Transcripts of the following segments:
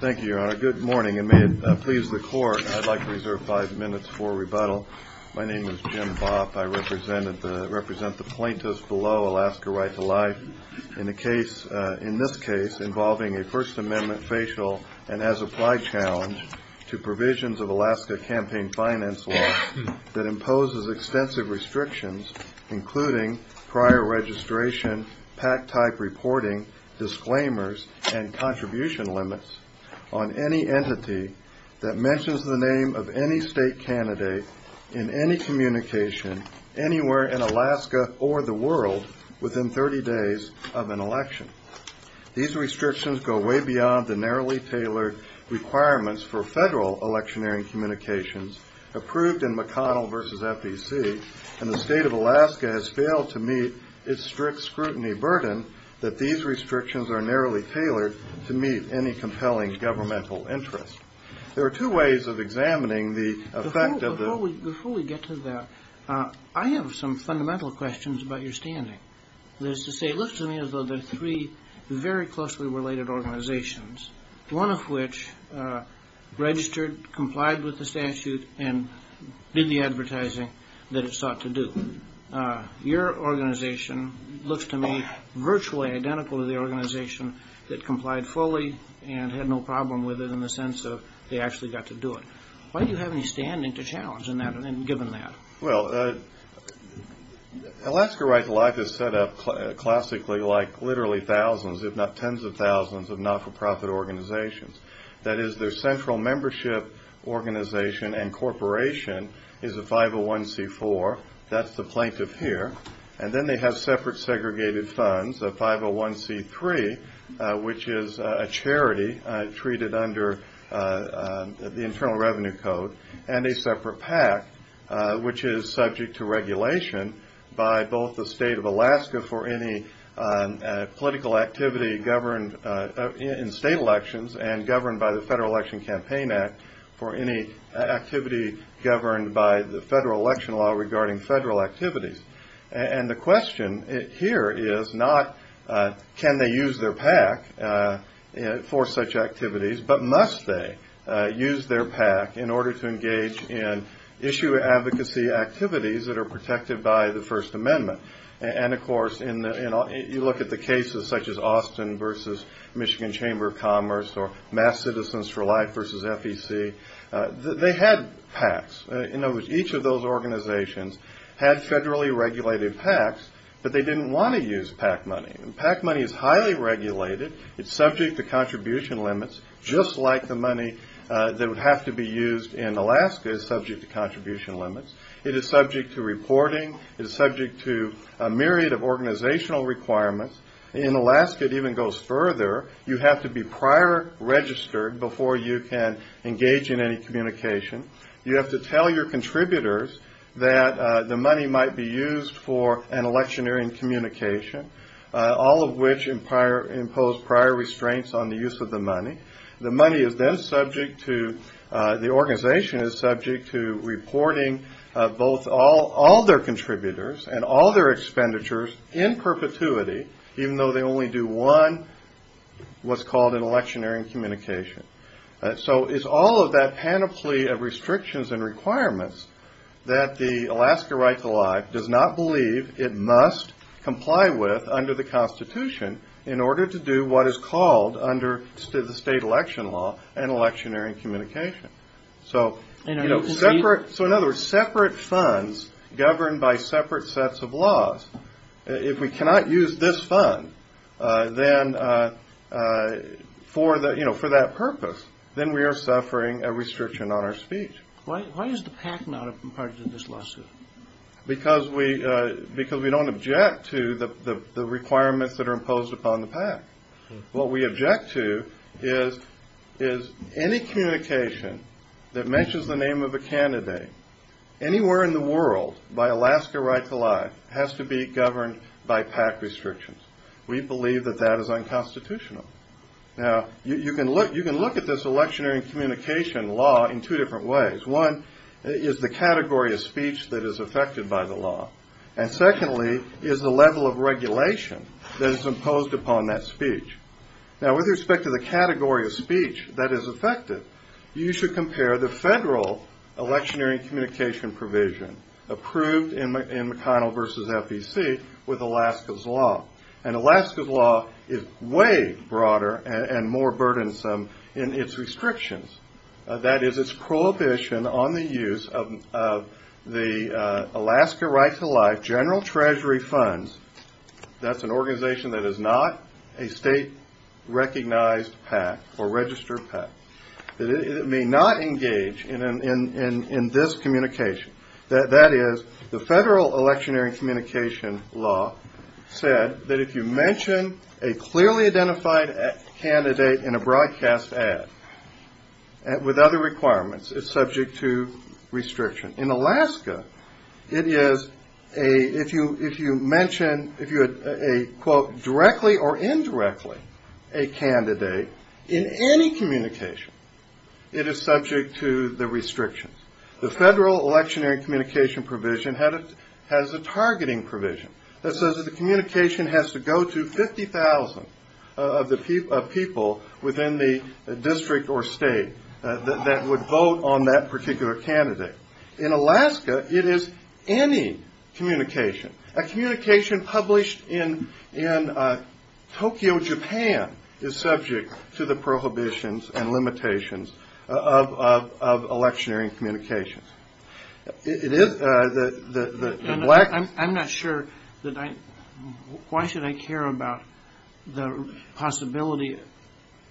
Thank you, Your Honor. Good morning, and may it please the Court, I'd like to reserve five minutes for rebuttal. My name is Jim Bopp. I represent the plaintiffs below Alaska Right To Life in this case involving a First Amendment facial and as-applied challenge to provisions of Alaska campaign finance law that imposes extensive restrictions, including prior registration, PAC-type reporting, disclaimers, and contribution limits on any entity that mentions the name of any state candidate in any communication anywhere in Alaska or the world within 30 days of an election. These restrictions go way beyond the narrowly tailored requirements for federal electioneering communications approved in McConnell v. FEC, and the state of Alaska has failed to meet its strict scrutiny burden that these restrictions are narrowly tailored to meet any compelling governmental interest. There are two ways of examining the effect of the... Before we get to that, I have some fundamental questions about your standing. That is to say, it looks to me as though there are three very closely related organizations, one of which registered, complied with the statute, and did the advertising that it sought to do. Your organization looks to me virtually identical to the organization that complied fully and had no problem with it in the sense of they actually got to do it. Why do you have any standing to challenge in that, given that? Well, Alaska Right To Life is set up classically like literally thousands, if not tens of thousands, of not-for-profit organizations. That is, their central membership organization and corporation is a 501C4. That's the plaintiff here. And then they have separate segregated funds, a 501C3, which is a charity treated under the Internal Revenue Code, and a separate PAC, which is subject to regulation by both the state of Alaska for any political activity governed in state elections and governed by the Federal Election Campaign Act for any activity governed by the federal election law regarding federal activities. And the question here is not can they use their PAC for such activities, but must they use their PAC in order to engage in issue advocacy activities that are protected by the First Amendment. And, of course, you look at the cases such as Austin v. Michigan Chamber of Commerce or Mass Citizens for Life v. FEC. They had PACs. In other words, each of those organizations had federally regulated PACs, but they didn't want to use PAC money. And PAC money is highly regulated. It's subject to contribution limits, just like the money that would have to be used in Alaska is subject to contribution limits. It is subject to reporting. It is subject to a myriad of organizational requirements. In Alaska, it even goes further. You have to be prior registered before you can engage in any communication. You have to tell your contributors that the money might be used for an electioneering communication, all of which impose prior restraints on the use of the money. The money is then subject to the organization is subject to reporting both all their contributors and all their expenditures in perpetuity, even though they only do one, what's called an electioneering communication. So it's all of that panoply of restrictions and requirements that the Alaska Right to Life does not believe it must comply with under the Constitution in order to do what is called under the state election law an electioneering communication. So in other words, separate funds governed by separate sets of laws. If we cannot use this fund for that purpose, then we are suffering a restriction on our speech. Why is the PAC not a part of this lawsuit? Because we don't object to the requirements that are imposed upon the PAC. What we object to is any communication that mentions the name of a candidate anywhere in the world by Alaska Right to Life has to be governed by PAC restrictions. We believe that that is unconstitutional. Now, you can look at this electioneering communication law in two different ways. One is the category of speech that is affected by the law. And secondly is the level of regulation that is imposed upon that speech. Now, with respect to the category of speech that is affected, you should compare the federal electioneering communication provision approved in McConnell v. FEC with Alaska's law. And Alaska's law is way broader and more burdensome in its restrictions. That is its prohibition on the use of the Alaska Right to Life general treasury funds. That's an organization that is not a state-recognized PAC or registered PAC. It may not engage in this communication. That is, the federal electioneering communication law said that if you mention a clearly identified candidate in a broadcast ad with other requirements, it's subject to restriction. In Alaska, it is a, if you mention, if you had a, quote, directly or indirectly a candidate in any communication, it is subject to the restrictions. The federal electioneering communication provision has a targeting provision that says that the communication has to go to 50,000 of people within the district or state that would vote on that particular candidate. In Alaska, it is any communication. A communication published in Tokyo, Japan, is subject to the prohibitions and limitations of electioneering communications. It is the black... I'm not sure that I, why should I care about the possibility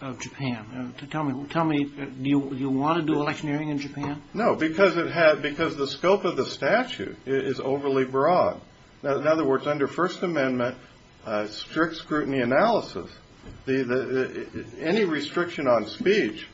of Japan? Tell me, do you want to do electioneering in Japan? No, because the scope of the statute is overly broad. In other words, under First Amendment strict scrutiny analysis, any restriction on speech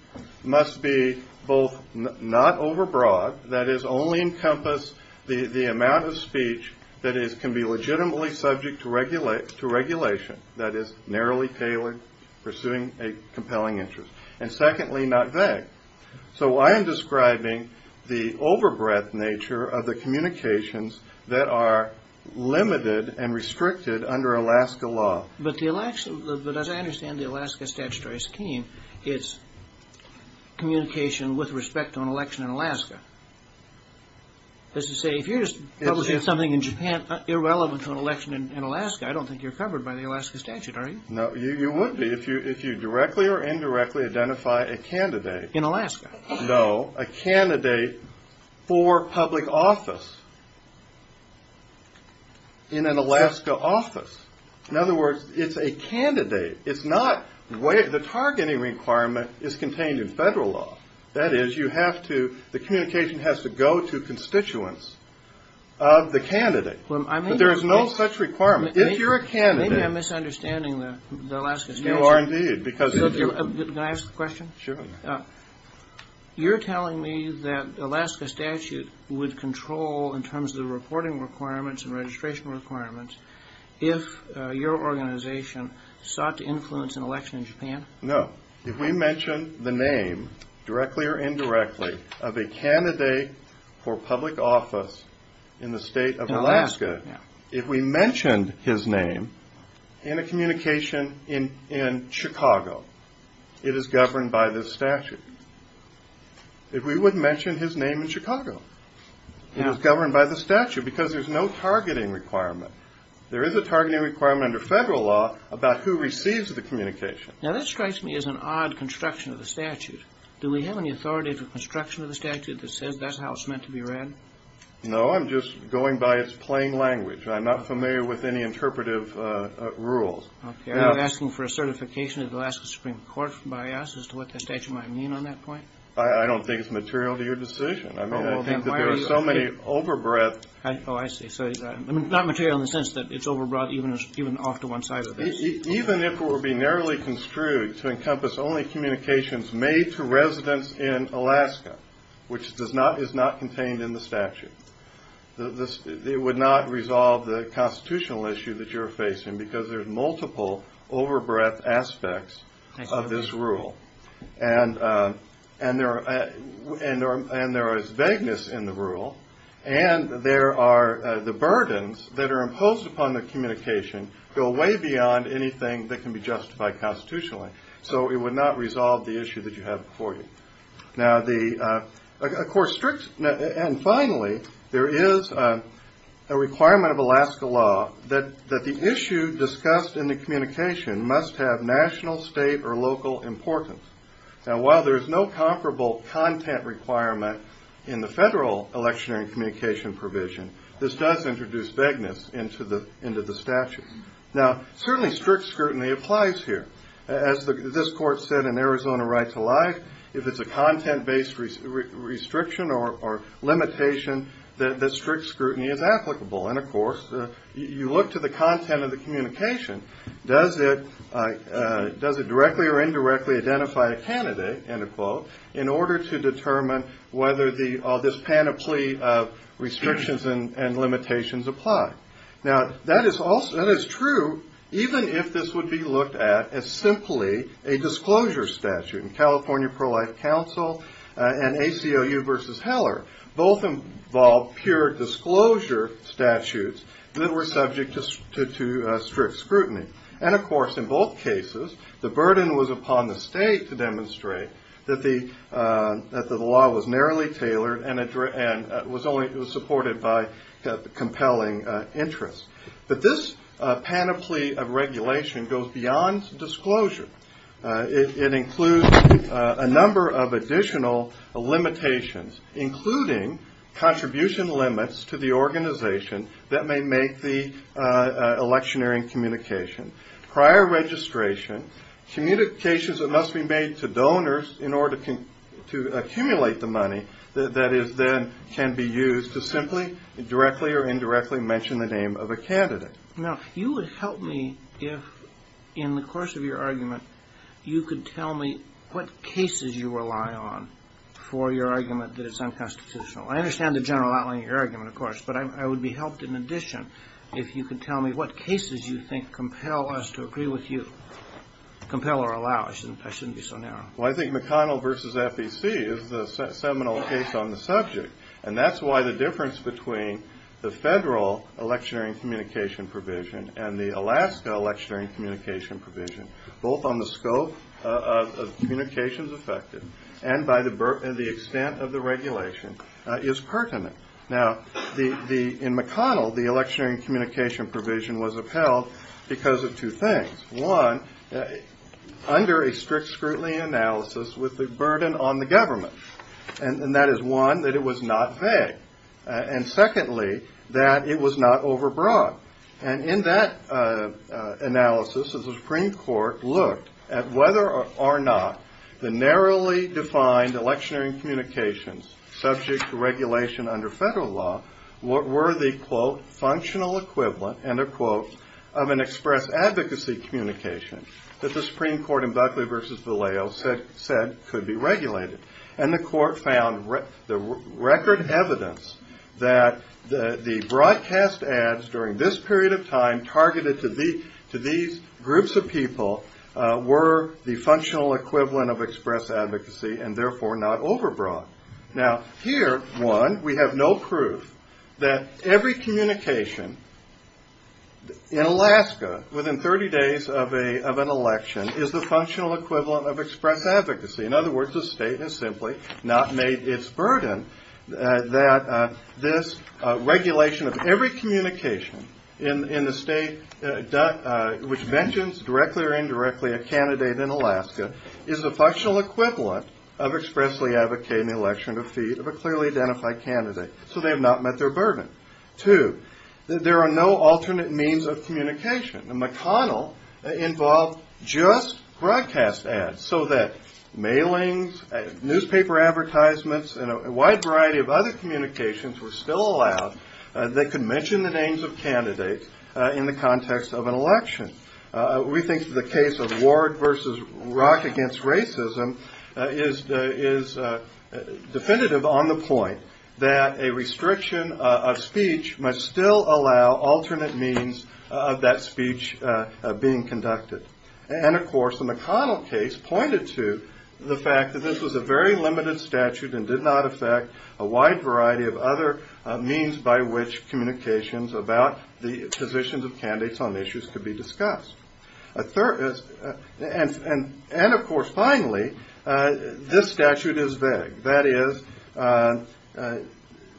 must be both not overbroad, that is, only encompass the amount of speech that can be legitimately subject to regulation, that is, narrowly tailored, pursuing a compelling interest, and secondly, not vague. So I am describing the overbreadth nature of the communications that are limited and restricted under Alaska law. But as I understand the Alaska statutory scheme, it's communication with respect to an election in Alaska. That is to say, if you're just publishing something in Japan irrelevant to an election in Alaska, I don't think you're covered by the Alaska statute, are you? No, you wouldn't be if you directly or indirectly identify a candidate. In Alaska? No, a candidate for public office in an Alaska office. In other words, it's a candidate. It's not, the targeting requirement is contained in federal law. That is, you have to, the communication has to go to constituents of the candidate. But there is no such requirement. If you're a candidate... Maybe I'm misunderstanding the Alaska statute. You are indeed, because... Can I ask a question? Sure. You're telling me that Alaska statute would control, in terms of the reporting requirements and registration requirements, if your organization sought to influence an election in Japan? No. If we mention the name, directly or indirectly, of a candidate for public office in the state of Alaska... In Alaska, yeah. If we mentioned his name in a communication in Chicago, it is governed by this statute. If we would mention his name in Chicago, it is governed by the statute, because there's no targeting requirement. There is a targeting requirement under federal law about who receives the communication. Now, this strikes me as an odd construction of the statute. Do we have any authority for construction of the statute that says that's how it's meant to be read? No. I'm just going by its plain language. I'm not familiar with any interpretive rules. Okay. Are you asking for a certification of the Alaska Supreme Court by us as to what the statute might mean on that point? I don't think it's material to your decision. I mean, I think that there are so many overbreadth... Oh, I see. So it's not material in the sense that it's overbroad even off to one side of this. Even if it were to be narrowly construed to encompass only communications made to residents in Alaska, which is not contained in the statute, it would not resolve the constitutional issue that you're facing, because there's multiple overbreadth aspects of this rule. And there is vagueness in the rule, and the burdens that are imposed upon the communication go way beyond anything that can be justified constitutionally. So it would not resolve the issue that you have before you. And finally, there is a requirement of Alaska law that the issue discussed in the communication must have national, state, or local importance. Now, while there's no comparable content requirement in the federal electionary communication provision, this does introduce vagueness into the statute. Now, certainly strict scrutiny applies here. As this court said in Arizona Rights Alive, if it's a content-based restriction or limitation, the strict scrutiny is applicable. And, of course, you look to the content of the communication. Does it directly or indirectly identify a candidate, end of quote, in order to determine whether this panoply of restrictions and limitations apply? Now, that is true even if this would be looked at as simply a disclosure statute. And California Pro-Life Council and ACLU versus Heller both involved pure disclosure statutes that were subject to strict scrutiny. And, of course, in both cases, the burden was upon the state to demonstrate that the law was narrowly tailored and was supported by compelling interests. But this panoply of regulation goes beyond disclosure. It includes a number of additional limitations, including contribution limits to the organization that may make the electionary communication. Prior registration, communications that must be made to donors in order to accumulate the money that can be used to simply, directly, or indirectly mention the name of a candidate. Now, you would help me if, in the course of your argument, you could tell me what cases you rely on for your argument that is unconstitutional. I understand the general outline of your argument, of course, but I would be helped in addition if you could tell me what cases you think compel us to agree with you, compel or allow. I shouldn't be so narrow. Well, I think McConnell versus FEC is the seminal case on the subject, and that's why the difference between the federal electionary communication provision and the Alaska electionary communication provision, both on the scope of communications affected and by the extent of the regulation, is pertinent. Now, in McConnell, the electionary communication provision was upheld because of two things. One, under a strict scrutiny analysis with a burden on the government, and that is, one, that it was not vague, and secondly, that it was not overbroad. And in that analysis, the Supreme Court looked at whether or not the narrowly defined electionary communications subject to regulation under federal law were the, quote, functional equivalent, end of quote, of an express advocacy communication that the Supreme Court in Buckley versus Vallejo said could be regulated. And the court found the record evidence that the broadcast ads during this period of time targeted to these groups of people were the functional equivalent of express advocacy and therefore not overbroad. Now, here, one, we have no proof that every communication in Alaska within 30 days of an election is the functional equivalent of express advocacy. In other words, the state has simply not made its burden that this regulation of every communication in the state which mentions directly or indirectly a candidate in Alaska is the functional equivalent of expressly advocating the election defeat of a clearly identified candidate, so they have not met their burden. Two, there are no alternate means of communication, and McConnell involved just broadcast ads so that mailings, newspaper advertisements, and a wide variety of other communications were still allowed that could mention the names of candidates in the context of an election. We think the case of Ward versus Rock against racism is definitive on the point that a restriction of speech must still allow alternate means of that speech being conducted. And, of course, the McConnell case pointed to the fact that this was a very limited statute and did not affect a wide variety of other means by which communications about the positions of candidates on issues could be discussed. And, of course, finally, this statute is vague. That is,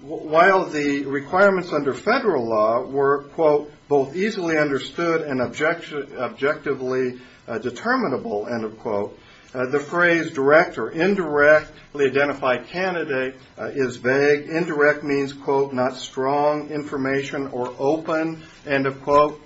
while the requirements under federal law were, quote, both easily understood and objectively determinable, end of quote, the phrase direct or indirectly identified candidate is vague. Indirect means, quote, not strong information or open, end of quote.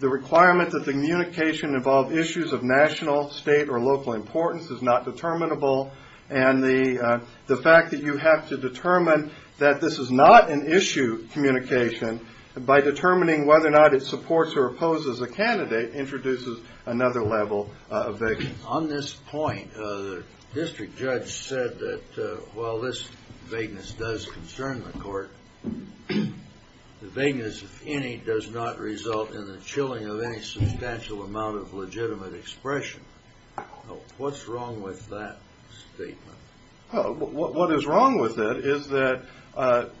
The requirement that the communication involve issues of national, state, or local importance is not determinable, and the fact that you have to determine that this is not an issue communication by determining whether or not it supports or opposes a candidate introduces another level of vagueness. On this point, the district judge said that while this vagueness does concern the court, the vagueness, if any, does not result in the chilling of any substantial amount of legitimate expression. What's wrong with that statement? What is wrong with it is that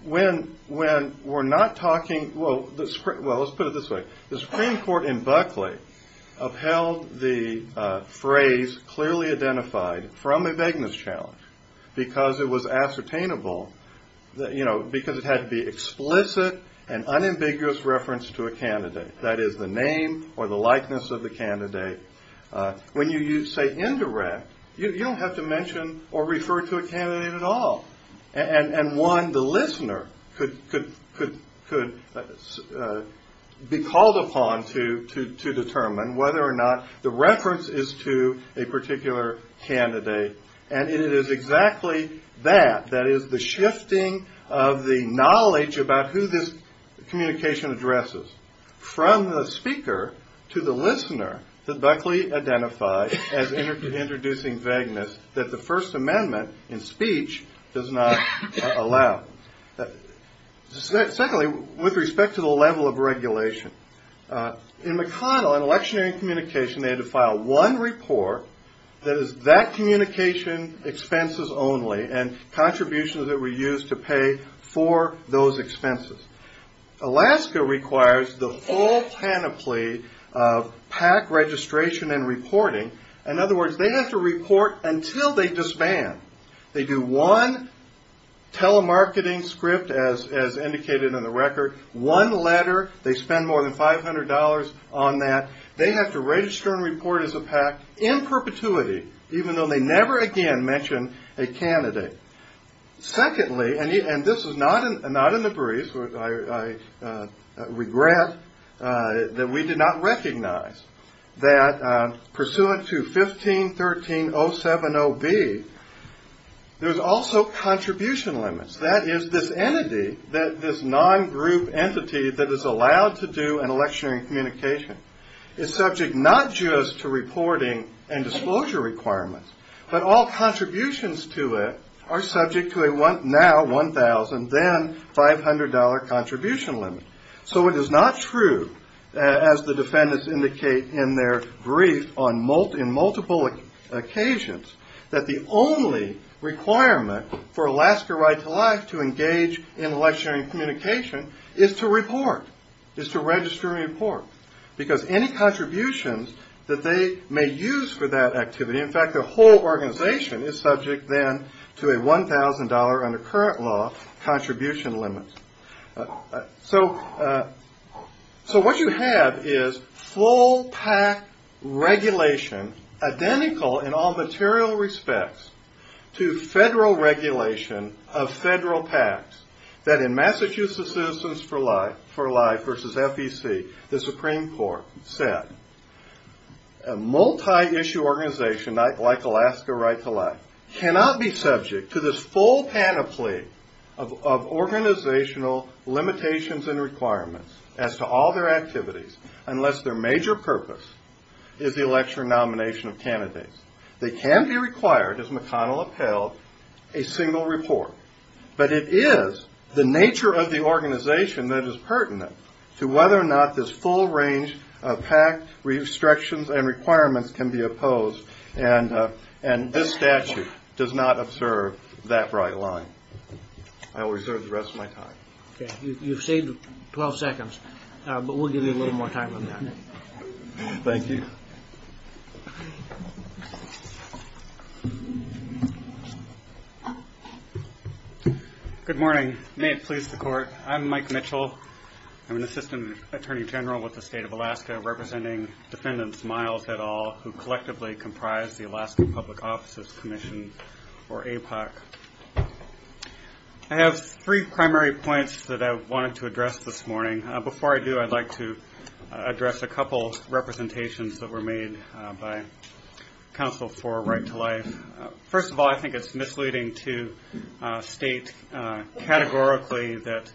when we're not talking, well, let's put it this way. The Supreme Court in Buckley upheld the phrase clearly identified from a vagueness challenge because it was ascertainable, because it had to be explicit and unambiguous reference to a candidate. That is the name or the likeness of the candidate. When you say indirect, you don't have to mention or refer to a candidate at all. And one, the listener, could be called upon to determine whether or not the reference is to a particular candidate. And it is exactly that, that is the shifting of the knowledge about who this communication addresses, from the speaker to the listener that Buckley identified as introducing vagueness that the First Amendment in speech does not allow. Secondly, with respect to the level of regulation, in McConnell, in electionary communication, they had to file one report that is that communication expenses only and contributions that were used to pay for those expenses. Alaska requires the full panoply of PAC registration and reporting. In other words, they have to report until they disband. They do one telemarketing script, as indicated in the record, one letter. They spend more than $500 on that. They have to register and report as a PAC in perpetuity, even though they never again mention a candidate. Secondly, and this is not in the briefs, I regret that we did not recognize that pursuant to 15.13.070B, there's also contribution limits. That is, this entity, this non-group entity that is allowed to do an electionary communication, is subject not just to reporting and disclosure requirements, but all contributions to it are subject to a now $1,000, then $500 contribution limit. So it is not true, as the defendants indicate in their brief on multiple occasions, that the only requirement for Alaska Right to Life to engage in electionary communication is to report, is to register and report. Because any contributions that they may use for that activity, in fact the whole organization, is subject then to a $1,000 under current law contribution limit. So what you have is full PAC regulation identical in all material respects to federal regulation of federal PACs. That in Massachusetts Citizens for Life v. FEC, the Supreme Court said, a multi-issue organization like Alaska Right to Life cannot be subject to this full panoply of organizational limitations and requirements as to all their activities unless their major purpose is the election or nomination of candidates. They can be required, as McConnell upheld, a single report. But it is the nature of the organization that is pertinent to whether or not this full range of PAC restrictions and requirements can be opposed. And this statute does not observe that right line. I will reserve the rest of my time. Okay. You've saved 12 seconds, but we'll give you a little more time on that. Thank you. Good morning. May it please the Court. I'm Mike Mitchell. I'm an Assistant Attorney General with the State of Alaska, representing Defendants Miles et al., who collectively comprise the Alaska Public Offices Commission, or APOC. I have three primary points that I wanted to address this morning. Before I do, I'd like to address a couple of representations that were made by counsel for Right to Life. First of all, I think it's misleading to state categorically that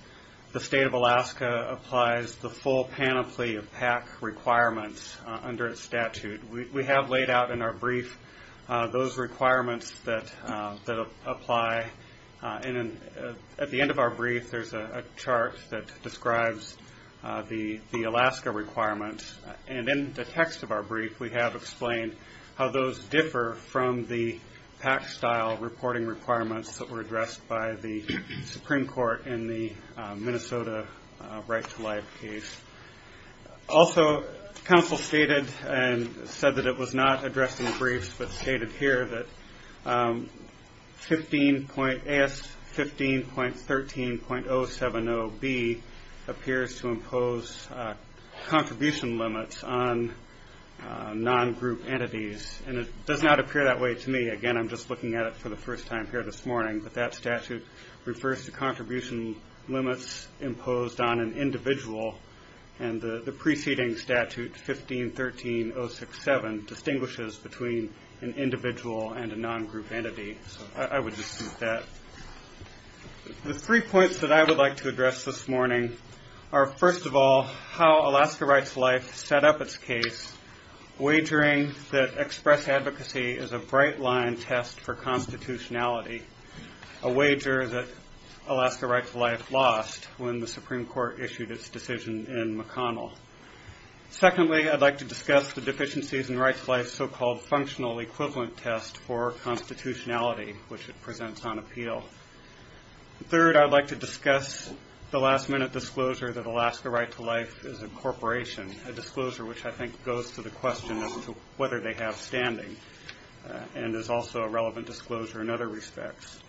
the State of Alaska applies the full panoply of PAC requirements under its statute. We have laid out in our brief those requirements that apply. And at the end of our brief, there's a chart that describes the Alaska requirements. And in the text of our brief, we have explained how those differ from the PAC-style reporting requirements that were addressed by the Supreme Court in the Minnesota Right to Life case. Also, counsel stated, and said that it was not addressed in the briefs, but stated here, that AS 15.13.070B appears to impose contribution limits on non-group entities. And it does not appear that way to me. Again, I'm just looking at it for the first time here this morning. But that statute refers to contribution limits imposed on an individual. And the preceding statute, 15.13.067, distinguishes between an individual and a non-group entity. So I would dispute that. The three points that I would like to address this morning are, first of all, how Alaska Rights to Life set up its case, wagering that express advocacy is a bright-line test for constitutionality, a wager that Alaska Rights to Life lost when the Supreme Court issued its decision in McConnell. Secondly, I'd like to discuss the deficiencies in Rights to Life's so-called functional equivalent test for constitutionality, which it presents on appeal. Third, I'd like to discuss the last-minute disclosure that Alaska Rights to Life is a corporation, a disclosure which I think goes to the question as to whether they have standing and is also a relevant disclosure in other respects.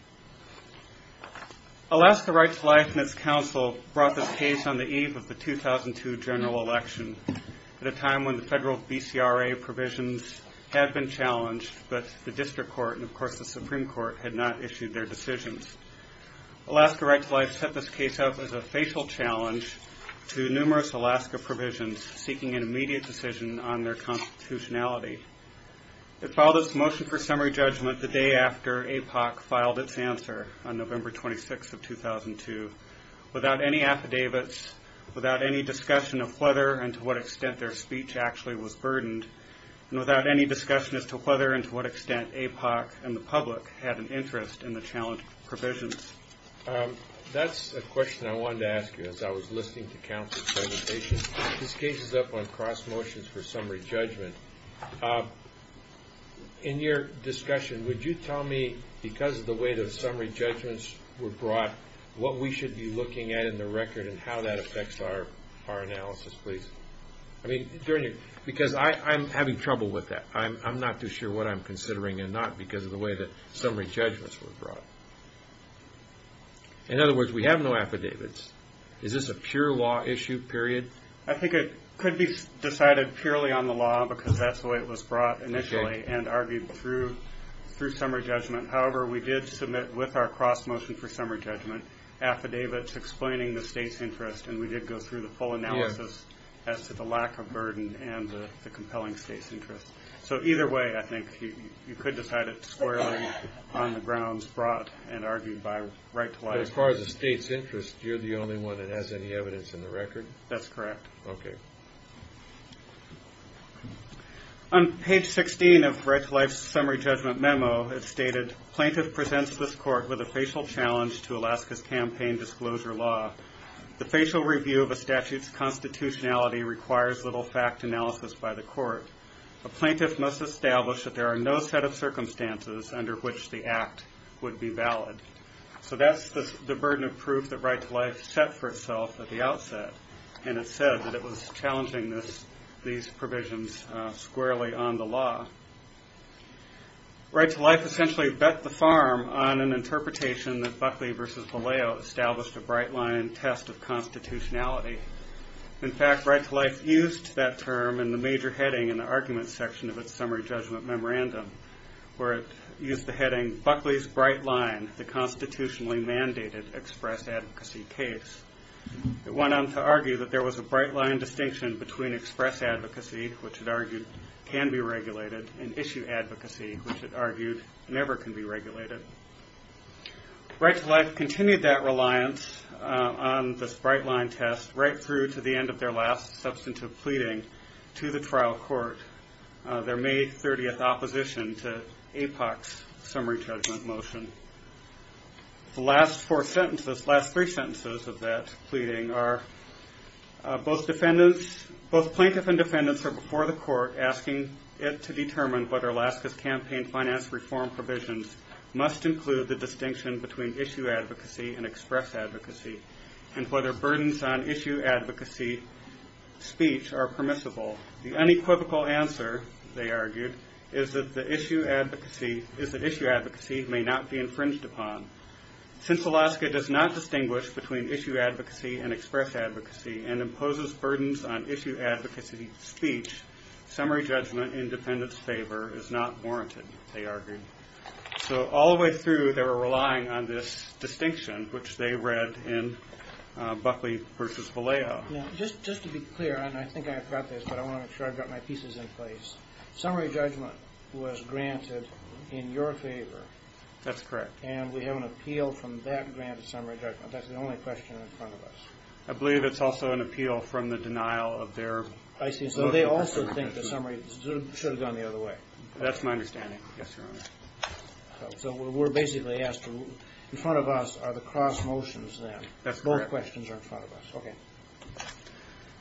Alaska Rights to Life and its counsel brought this case on the eve of the 2002 general election, at a time when the federal BCRA provisions had been challenged, but the district court and, of course, the Supreme Court had not issued their decisions. Alaska Rights to Life set this case up as a facial challenge to numerous Alaska provisions, seeking an immediate decision on their constitutionality. It filed its motion for summary judgment the day after APOC filed its answer on November 26 of 2002, without any affidavits, without any discussion of whether and to what extent their speech actually was burdened, and without any discussion as to whether and to what extent APOC and the public had an interest in the challenge provisions. That's a question I wanted to ask you as I was listening to counsel's presentation. This case is up on cross motions for summary judgment. In your discussion, would you tell me, because of the way those summary judgments were brought, what we should be looking at in the record and how that affects our analysis, please? Because I'm having trouble with that. I'm not too sure what I'm considering, and not because of the way the summary judgments were brought. In other words, we have no affidavits. Is this a pure law issue, period? I think it could be decided purely on the law, because that's the way it was brought initially and argued through summary judgment. However, we did submit, with our cross motion for summary judgment, affidavits explaining the state's interest, and we did go through the full analysis as to the lack of burden and the compelling state's interest. Either way, I think you could decide it squarely on the grounds brought and argued by Right to Life. As far as the state's interest, you're the only one that has any evidence in the record? That's correct. Okay. On page 16 of Right to Life's summary judgment memo, it stated, plaintiff presents this court with a facial challenge to Alaska's campaign disclosure law. The facial review of a statute's constitutionality requires little fact analysis by the court. A plaintiff must establish that there are no set of circumstances under which the act would be valid. So that's the burden of proof that Right to Life set for itself at the outset, and it said that it was challenging these provisions squarely on the law. Right to Life essentially bet the farm on an interpretation that Buckley versus Vallejo established a bright line test of constitutionality. In fact, Right to Life used that term in the major heading in the argument section of its summary judgment memorandum, where it used the heading, Buckley's bright line, the constitutionally mandated express advocacy case. It went on to argue that there was a bright line distinction between express advocacy, which it argued can be regulated, and issue advocacy, which it argued never can be regulated. Right to Life continued that reliance on this bright line test right through to the end of their last substantive pleading to the trial court, their May 30th opposition to APOC's summary judgment motion. The last four sentences, last three sentences of that pleading are, both plaintiff and defendants are before the court asking it to determine whether Alaska's campaign finance reform provisions must include the distinction between issue advocacy and express advocacy, and whether burdens on issue advocacy speech are permissible. The unequivocal answer, they argued, is that issue advocacy may not be infringed upon. Since Alaska does not distinguish between issue advocacy and express advocacy, and imposes burdens on issue advocacy speech, summary judgment in defendants' favor is not warranted, they argued. So all the way through they were relying on this distinction, which they read in Buckley versus Vallejo. Now, just to be clear, and I think I've got this, but I want to make sure I've got my pieces in place. Summary judgment was granted in your favor. That's correct. And we have an appeal from that granted summary judgment. That's the only question in front of us. I believe it's also an appeal from the denial of their vote. I see. So they also think the summary should have gone the other way. That's my understanding, yes, Your Honor. So we're basically asked, in front of us are the cross motions then. Both questions are in front of us.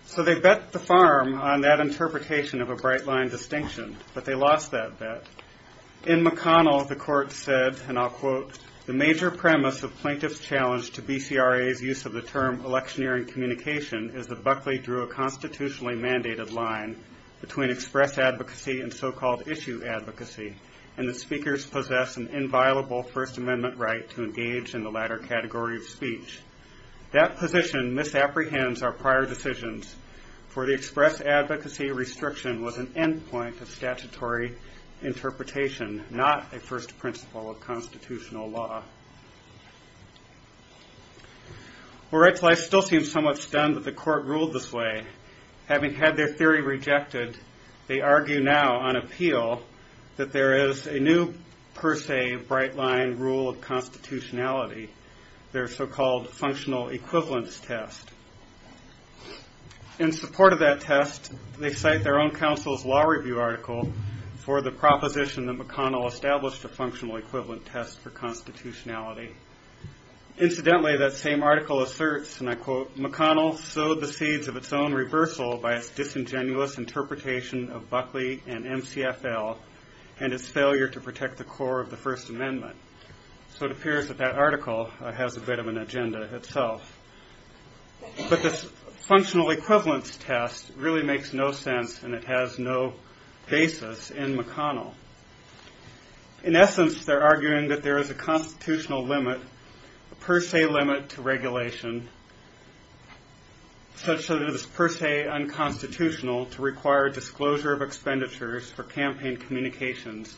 So they bet the farm on that interpretation of a bright line distinction, but they lost that bet. In McConnell, the court said, and I'll quote, the major premise of plaintiff's challenge to BCRA's use of the term electioneering communication is that Buckley drew a constitutionally mandated line between express advocacy and so-called issue advocacy, and the speakers possess an inviolable First Amendment right to engage in the latter category of speech. That position misapprehends our prior decisions, for the express advocacy restriction was an end point of statutory interpretation, not a first principle of constitutional law. Well, rightfully, I still seem somewhat stunned that the court ruled this way. Having had their theory rejected, they argue now on appeal that there is a new per se bright line rule of constitutionality, their so-called functional equivalence test. In support of that test, they cite their own counsel's law review article for the proposition that McConnell established a functional equivalent test for constitutionality. Incidentally, that same article asserts, and I quote, McConnell sowed the seeds of its own reversal by its disingenuous interpretation of Buckley and MCFL and its failure to protect the core of the First Amendment. So it appears that that article has a bit of an agenda itself. But this functional equivalence test really makes no sense, and it has no basis in McConnell. In essence, they're arguing that there is a constitutional limit, a per se limit to regulation, such that it is per se unconstitutional to require disclosure of expenditures for campaign communications,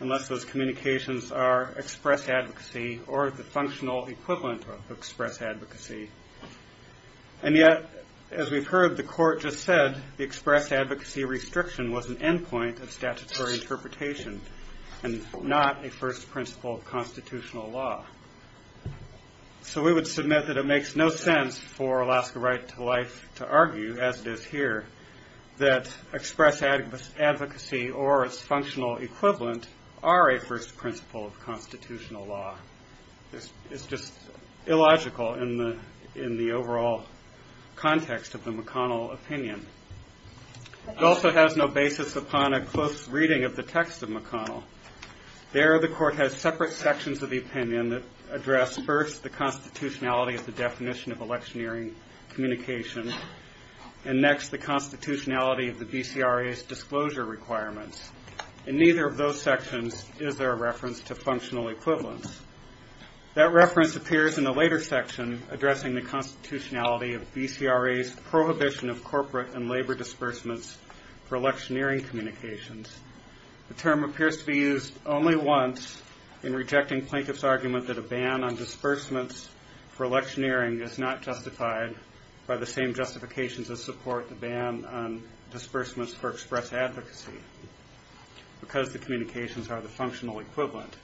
unless those communications are express advocacy or the functional equivalent of express advocacy. And yet, as we've heard the court just said, the express advocacy restriction was an endpoint of statutory interpretation and not a first principle of constitutional law. So we would submit that it makes no sense for Alaska Right to Life to argue, as it is here, that express advocacy or its functional equivalent are a first principle of constitutional law. It's just illogical in the overall context of the McConnell opinion. It also has no basis upon a close reading of the text of McConnell. There, the court has separate sections of the opinion that address, first, the constitutionality of the definition of electioneering communications, and next, the constitutionality of the BCRA's disclosure requirements. In neither of those sections is there a reference to functional equivalence. That reference appears in a later section addressing the constitutionality of BCRA's prohibition of corporate and labor disbursements for electioneering communications. The term appears to be used only once in rejecting plaintiff's argument that a ban on disbursements for electioneering is not justified by the same justifications that support the ban on disbursements for express advocacy because the communications are the functional equivalent.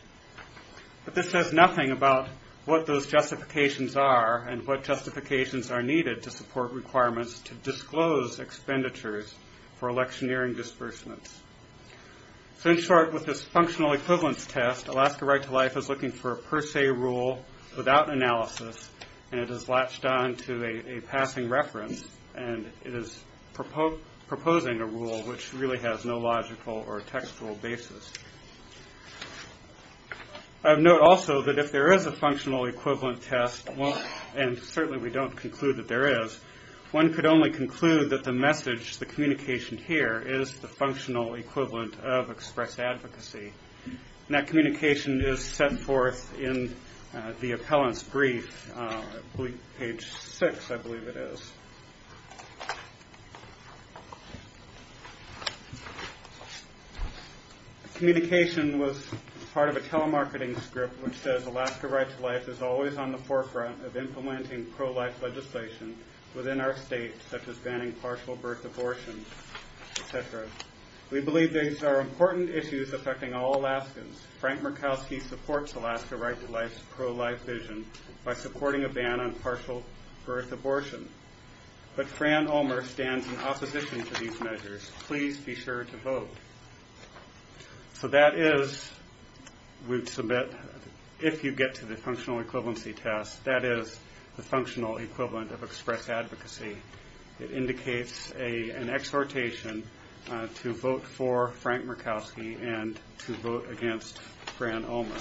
But this says nothing about what those justifications are and what justifications are needed to support requirements to disclose expenditures for electioneering disbursements. So in short, with this functional equivalence test, Alaska Right to Life is looking for a per se rule without analysis, and it has latched on to a passing reference, and it is proposing a rule which really has no logical or textual basis. Note also that if there is a functional equivalent test, and certainly we don't conclude that there is, one could only conclude that the message, the communication here, is the functional equivalent of express advocacy. That communication is set forth in the appellant's brief, page six I believe it is. Communication was part of a telemarketing script which says, Alaska Right to Life is always on the forefront of implementing pro-life legislation within our state, such as banning partial birth abortions, et cetera. We believe these are important issues affecting all Alaskans. Frank Murkowski supports Alaska Right to Life's pro-life vision by supporting a ban on partial birth abortion. But Fran Ulmer stands in opposition to these measures. Please be sure to vote. So that is, we submit, if you get to the functional equivalency test, that is the functional equivalent of express advocacy. It indicates an exhortation to vote for Frank Murkowski and to vote against Fran Ulmer.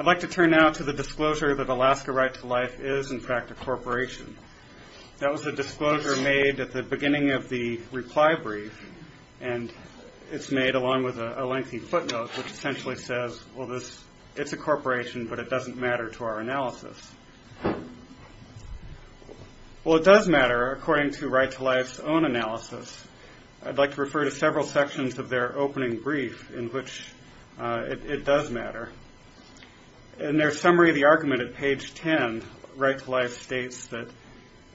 I'd like to turn now to the disclosure that Alaska Right to Life is in fact a corporation. That was a disclosure made at the beginning of the reply brief, and it's made along with a lengthy footnote which essentially says, well, it's a corporation, but it doesn't matter to our analysis. Well, it does matter according to Right to Life's own analysis. I'd like to refer to several sections of their opening brief in which it does matter. In their summary of the argument at page 10, Right to Life states that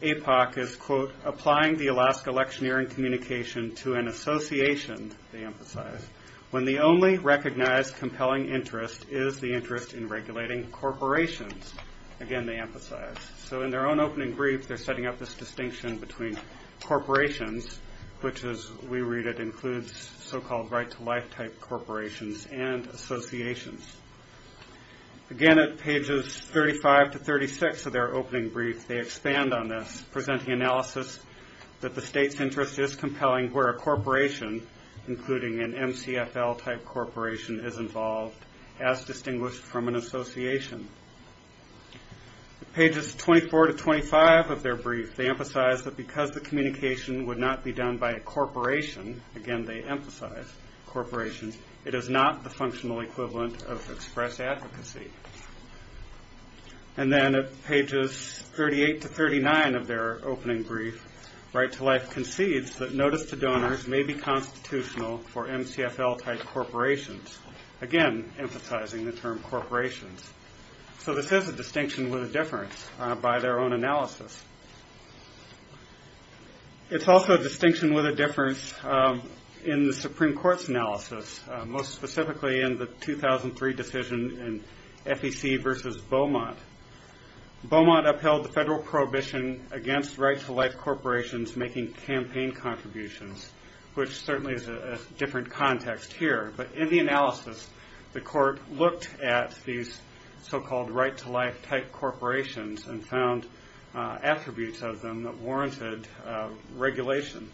APOC is, quote, applying the Alaska electioneering communication to an association, they emphasize, when the only recognized compelling interest is the interest in regulating corporations. Again, they emphasize. So in their own opening brief, they're setting up this distinction between corporations, which as we read it includes so-called Right to Life type corporations and associations. Again, at pages 35 to 36 of their opening brief, they expand on this, presenting analysis that the state's interest is compelling where a corporation, including an MCFL type corporation, is involved, as distinguished from an association. At pages 24 to 25 of their brief, they emphasize that because the communication would not be done by a corporation, again, they emphasize corporations, it is not the functional equivalent of express advocacy. And then at pages 38 to 39 of their opening brief, Right to Life concedes that notice to donors may be constitutional for MCFL type corporations, again, emphasizing the term corporations. So this is a distinction with a difference by their own analysis. It's also a distinction with a difference in the Supreme Court's analysis, most specifically in the 2003 decision in FEC versus Beaumont. Beaumont upheld the federal prohibition against Right to Life corporations making campaign contributions, which certainly is a different context here. But in the analysis, the court looked at these so-called Right to Life type corporations and found attributes of them that warranted regulation.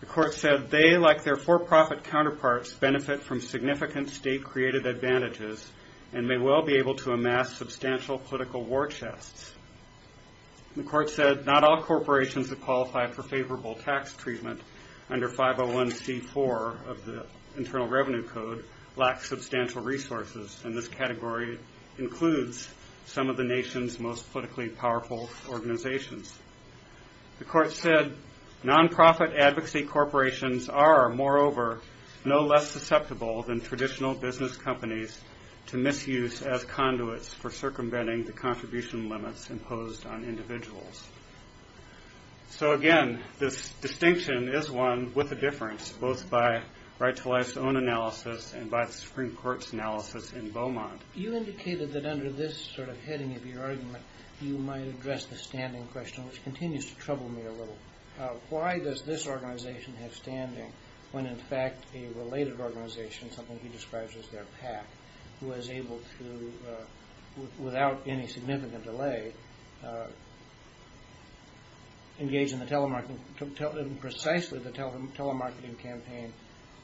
The court said they, like their for-profit counterparts, benefit from significant state-created advantages and may well be able to amass substantial political war chests. The court said not all corporations that qualify for favorable tax treatment under 501c4 of the Internal Revenue Code lacks substantial resources, and this category includes some of the nation's most politically powerful organizations. The court said non-profit advocacy corporations are, moreover, no less susceptible than traditional business companies to misuse as conduits for circumventing the contribution limits imposed on individuals. So again, this distinction is one with a difference, both by Right to Life's own analysis and by the Supreme Court's analysis in Beaumont. You indicated that under this sort of heading of your argument, you might address the standing question, which continues to trouble me a little. Why does this organization have standing when in fact a related organization, something he describes as their PAC, was able to, without any significant delay, engage in precisely the telemarketing campaign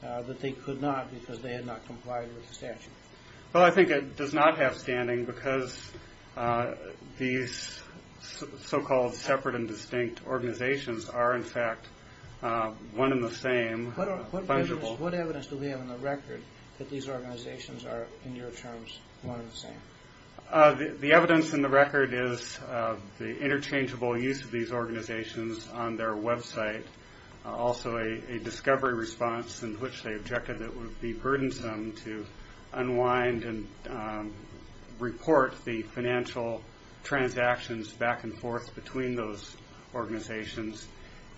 that they could not because they had not complied with the statute? Well, I think it does not have standing because these so-called separate and distinct organizations are in fact one and the same. What evidence do we have in the record that these organizations are, in your terms, one and the same? The evidence in the record is the interchangeable use of these organizations on their website, also a discovery response in which they objected that it would be burdensome to unwind and report the financial transactions back and forth between those organizations.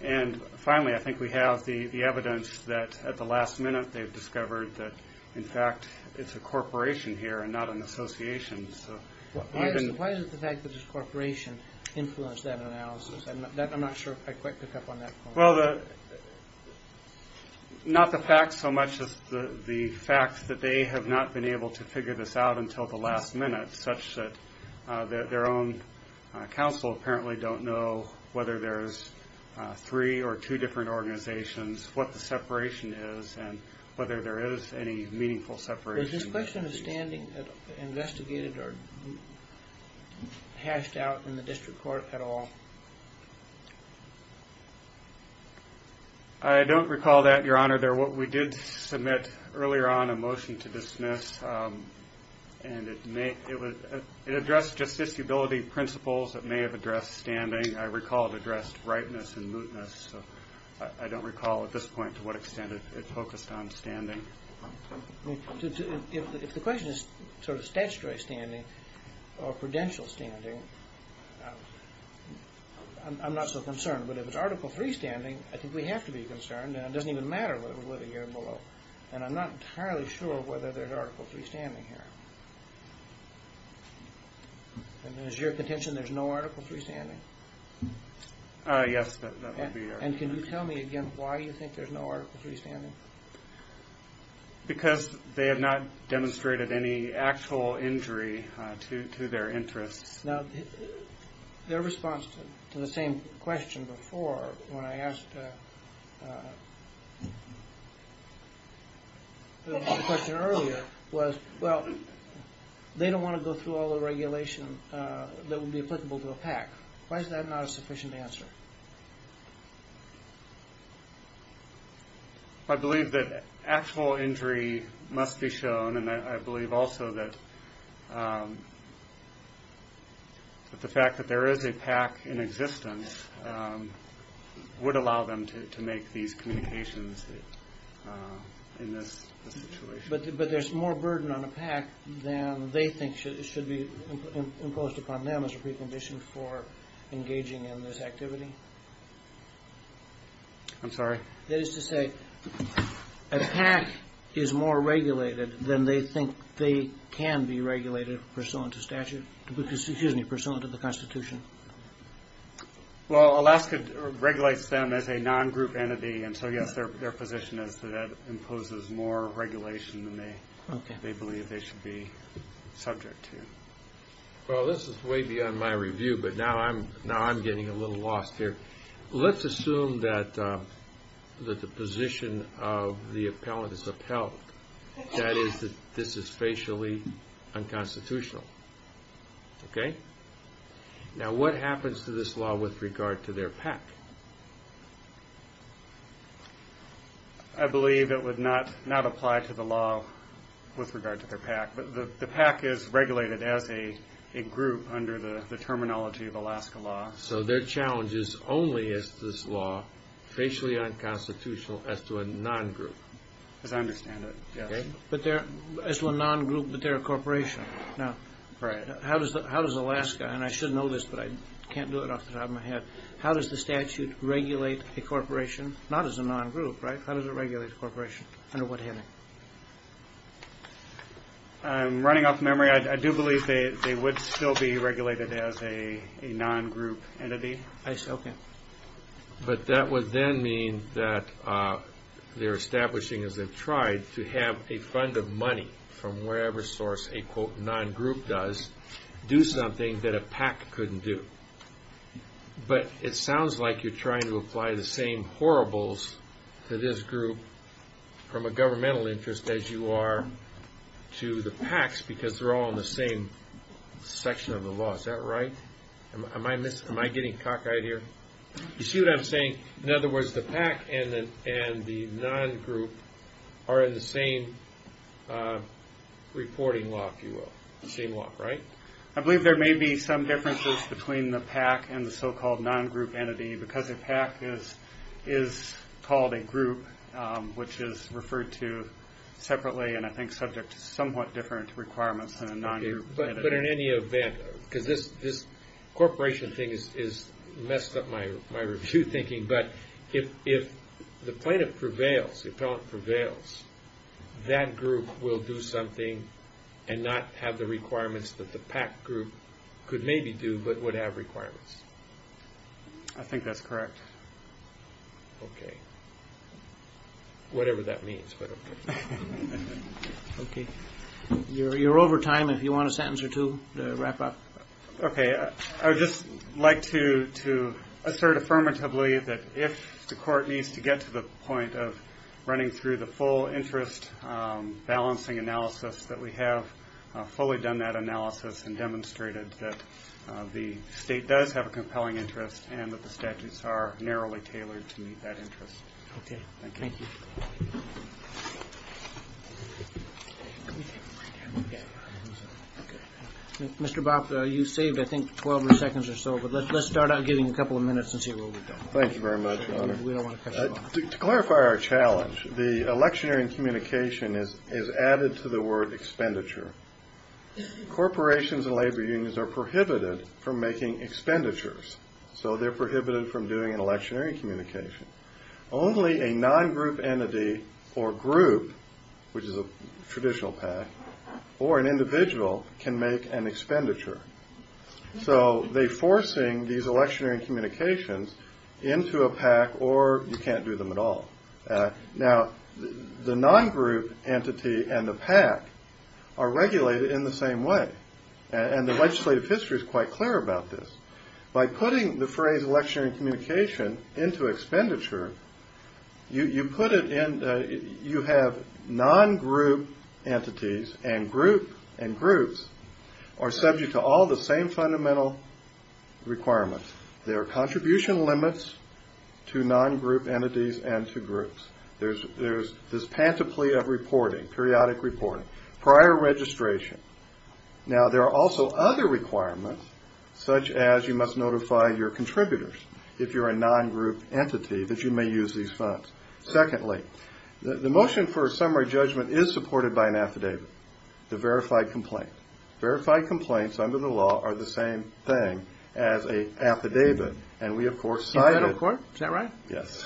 And finally, I think we have the evidence that at the last minute they've discovered that in fact it's a corporation here and not an association. Why does the fact that it's a corporation influence that analysis? I'm not sure if I quite picked up on that. Well, not the facts so much as the fact that they have not been able to figure this out until the last minute such that their own counsel apparently don't know whether there's three or two different organizations, what the separation is, and whether there is any meaningful separation. Was this question of standing investigated or hashed out in the district court at all? I don't recall that, Your Honor. We did submit earlier on a motion to dismiss and it addressed justiciability principles. It may have addressed standing. I recall it addressed rightness and mootness. I don't recall at this point to what extent it focused on standing. If the question is sort of statutory standing or prudential standing, I'm not so concerned. But if it's Article III standing, I think we have to be concerned, and it doesn't even matter whether we live a year below. And I'm not entirely sure whether there's Article III standing here. And is your contention there's no Article III standing? Yes, that would be our contention. And can you tell me again why you think there's no Article III standing? Because they have not demonstrated any actual injury to their interests. Now, their response to the same question before when I asked the question earlier was, well, they don't want to go through all the regulation that would be applicable to a PAC. Why is that not a sufficient answer? I believe that actual injury must be shown, and I believe also that the fact that there is a PAC in existence would allow them to make these communications in this situation. But there's more burden on a PAC than they think should be imposed upon them as a precondition for engaging in this activity? I'm sorry? That is to say, a PAC is more regulated than they think they can be regulated pursuant to statute? Excuse me, pursuant to the Constitution? Well, Alaska regulates them as a non-group entity, and so, yes, their position is that that imposes more regulation than they believe they should be subject to. Well, this is way beyond my review, but now I'm getting a little lost here. Let's assume that the position of the appellant is upheld, that is, that this is facially unconstitutional. Okay? Now, what happens to this law with regard to their PAC? I believe it would not apply to the law with regard to their PAC, but the PAC is regulated as a group under the terminology of Alaska law. So their challenge is only is this law facially unconstitutional as to a non-group? As I understand it, yes. As to a non-group, but they're a corporation. Right. How does Alaska, and I should know this, but I can't do it off the top of my head, how does the statute regulate a corporation, not as a non-group, right? How does it regulate a corporation? Under what heading? I'm running out of memory. I do believe they would still be regulated as a non-group entity. I see. Okay. But that would then mean that they're establishing, as they've tried, to have a fund of money from wherever source a quote non-group does do something that a PAC couldn't do. But it sounds like you're trying to apply the same horribles to this group from a governmental interest as you are to the PACs because they're all in the same section of the law. Is that right? Am I getting cockeyed here? You see what I'm saying? In other words, the PAC and the non-group are in the same reporting law, if you will, the same law, right? I believe there may be some differences between the PAC and the so-called non-group entity because a PAC is called a group, which is referred to separately and I think subject to somewhat different requirements than a non-group entity. But in any event, because this corporation thing has messed up my review thinking, but if the plaintiff prevails, the appellant prevails, that group will do something and not have the requirements that the PAC group could maybe do but would have requirements. I think that's correct. Okay. Whatever that means, but okay. Okay. You're over time if you want a sentence or two to wrap up. Okay. I would just like to assert affirmatively that if the court needs to get to the point of running through the full interest balancing analysis that we have fully done that analysis and demonstrated that the state does have a compelling interest and that the statutes are narrowly tailored to meet that interest. Okay. Thank you. Thank you. Mr. Bopp, you saved I think 12 seconds or so, but let's start out giving a couple of minutes and see what we've done. Thank you very much, Your Honor. We don't want to cut you off. To clarify our challenge, the electioneering communication is added to the word expenditure. Corporations and labor unions are prohibited from making expenditures, so they're prohibited from doing electioneering communication. Only a non-group entity or group, which is a traditional PAC, or an individual can make an expenditure. So they're forcing these electioneering communications into a PAC or you can't do them at all. Now, the non-group entity and the PAC are regulated in the same way, and the legislative history is quite clear about this. By putting the phrase electioneering communication into expenditure, you have non-group entities and groups are subject to all the same fundamental requirements. There are contribution limits to non-group entities and to groups. There's this panoply of reporting, periodic reporting, prior registration. Now, there are also other requirements, such as you must notify your contributors, if you're a non-group entity, that you may use these funds. Secondly, the motion for a summary judgment is supported by an affidavit, the verified complaint. Verified complaints under the law are the same thing as an affidavit, and we, of course, cited it. Is that right? Yes.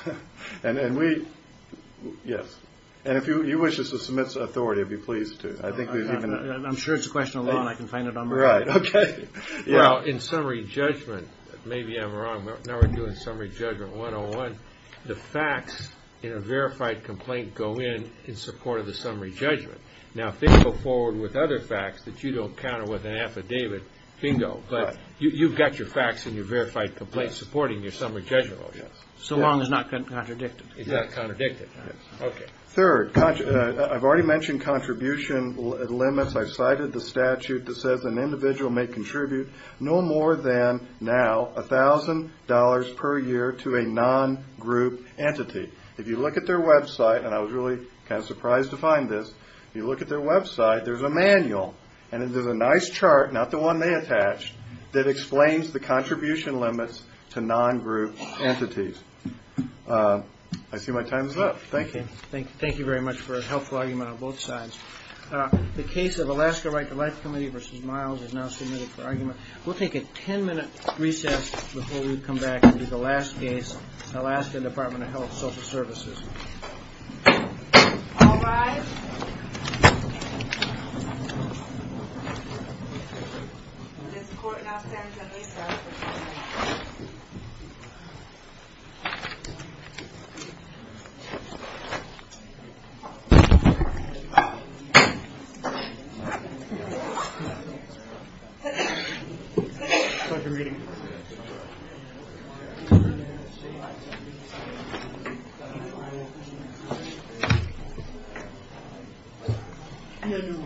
And if you wish us to submit to authority, I'd be pleased to. I'm sure it's a question of law, and I can find a number. Right, okay. Well, in summary judgment, maybe I'm wrong, now we're doing summary judgment 101, the facts in a verified complaint go in in support of the summary judgment. Now, if they go forward with other facts that you don't counter with an affidavit, bingo. But you've got your facts in your verified complaint supporting your summary judgment motion. So long as it's not contradicted. It's not contradicted. Okay. Third, I've already mentioned contribution limits. I cited the statute that says an individual may contribute no more than, now, $1,000 per year to a non-group entity. If you look at their website, and I was really kind of surprised to find this, if you look at their website, there's a manual, and there's a nice chart, not the one they attached, that explains the contribution limits to non-group entities. I see my time is up. Thank you. Thank you very much for a helpful argument on both sides. The case of Alaska Right-to-Life Committee v. Miles is now submitted for argument. We'll take a ten-minute recess before we come back and do the last case, Alaska Department of Health and Social Services. All rise. This court now stands at 8-7. Thank you. Thank you. Thank you. Thank you. Thank you. Thank you. Thank you. Thank you. Thank you.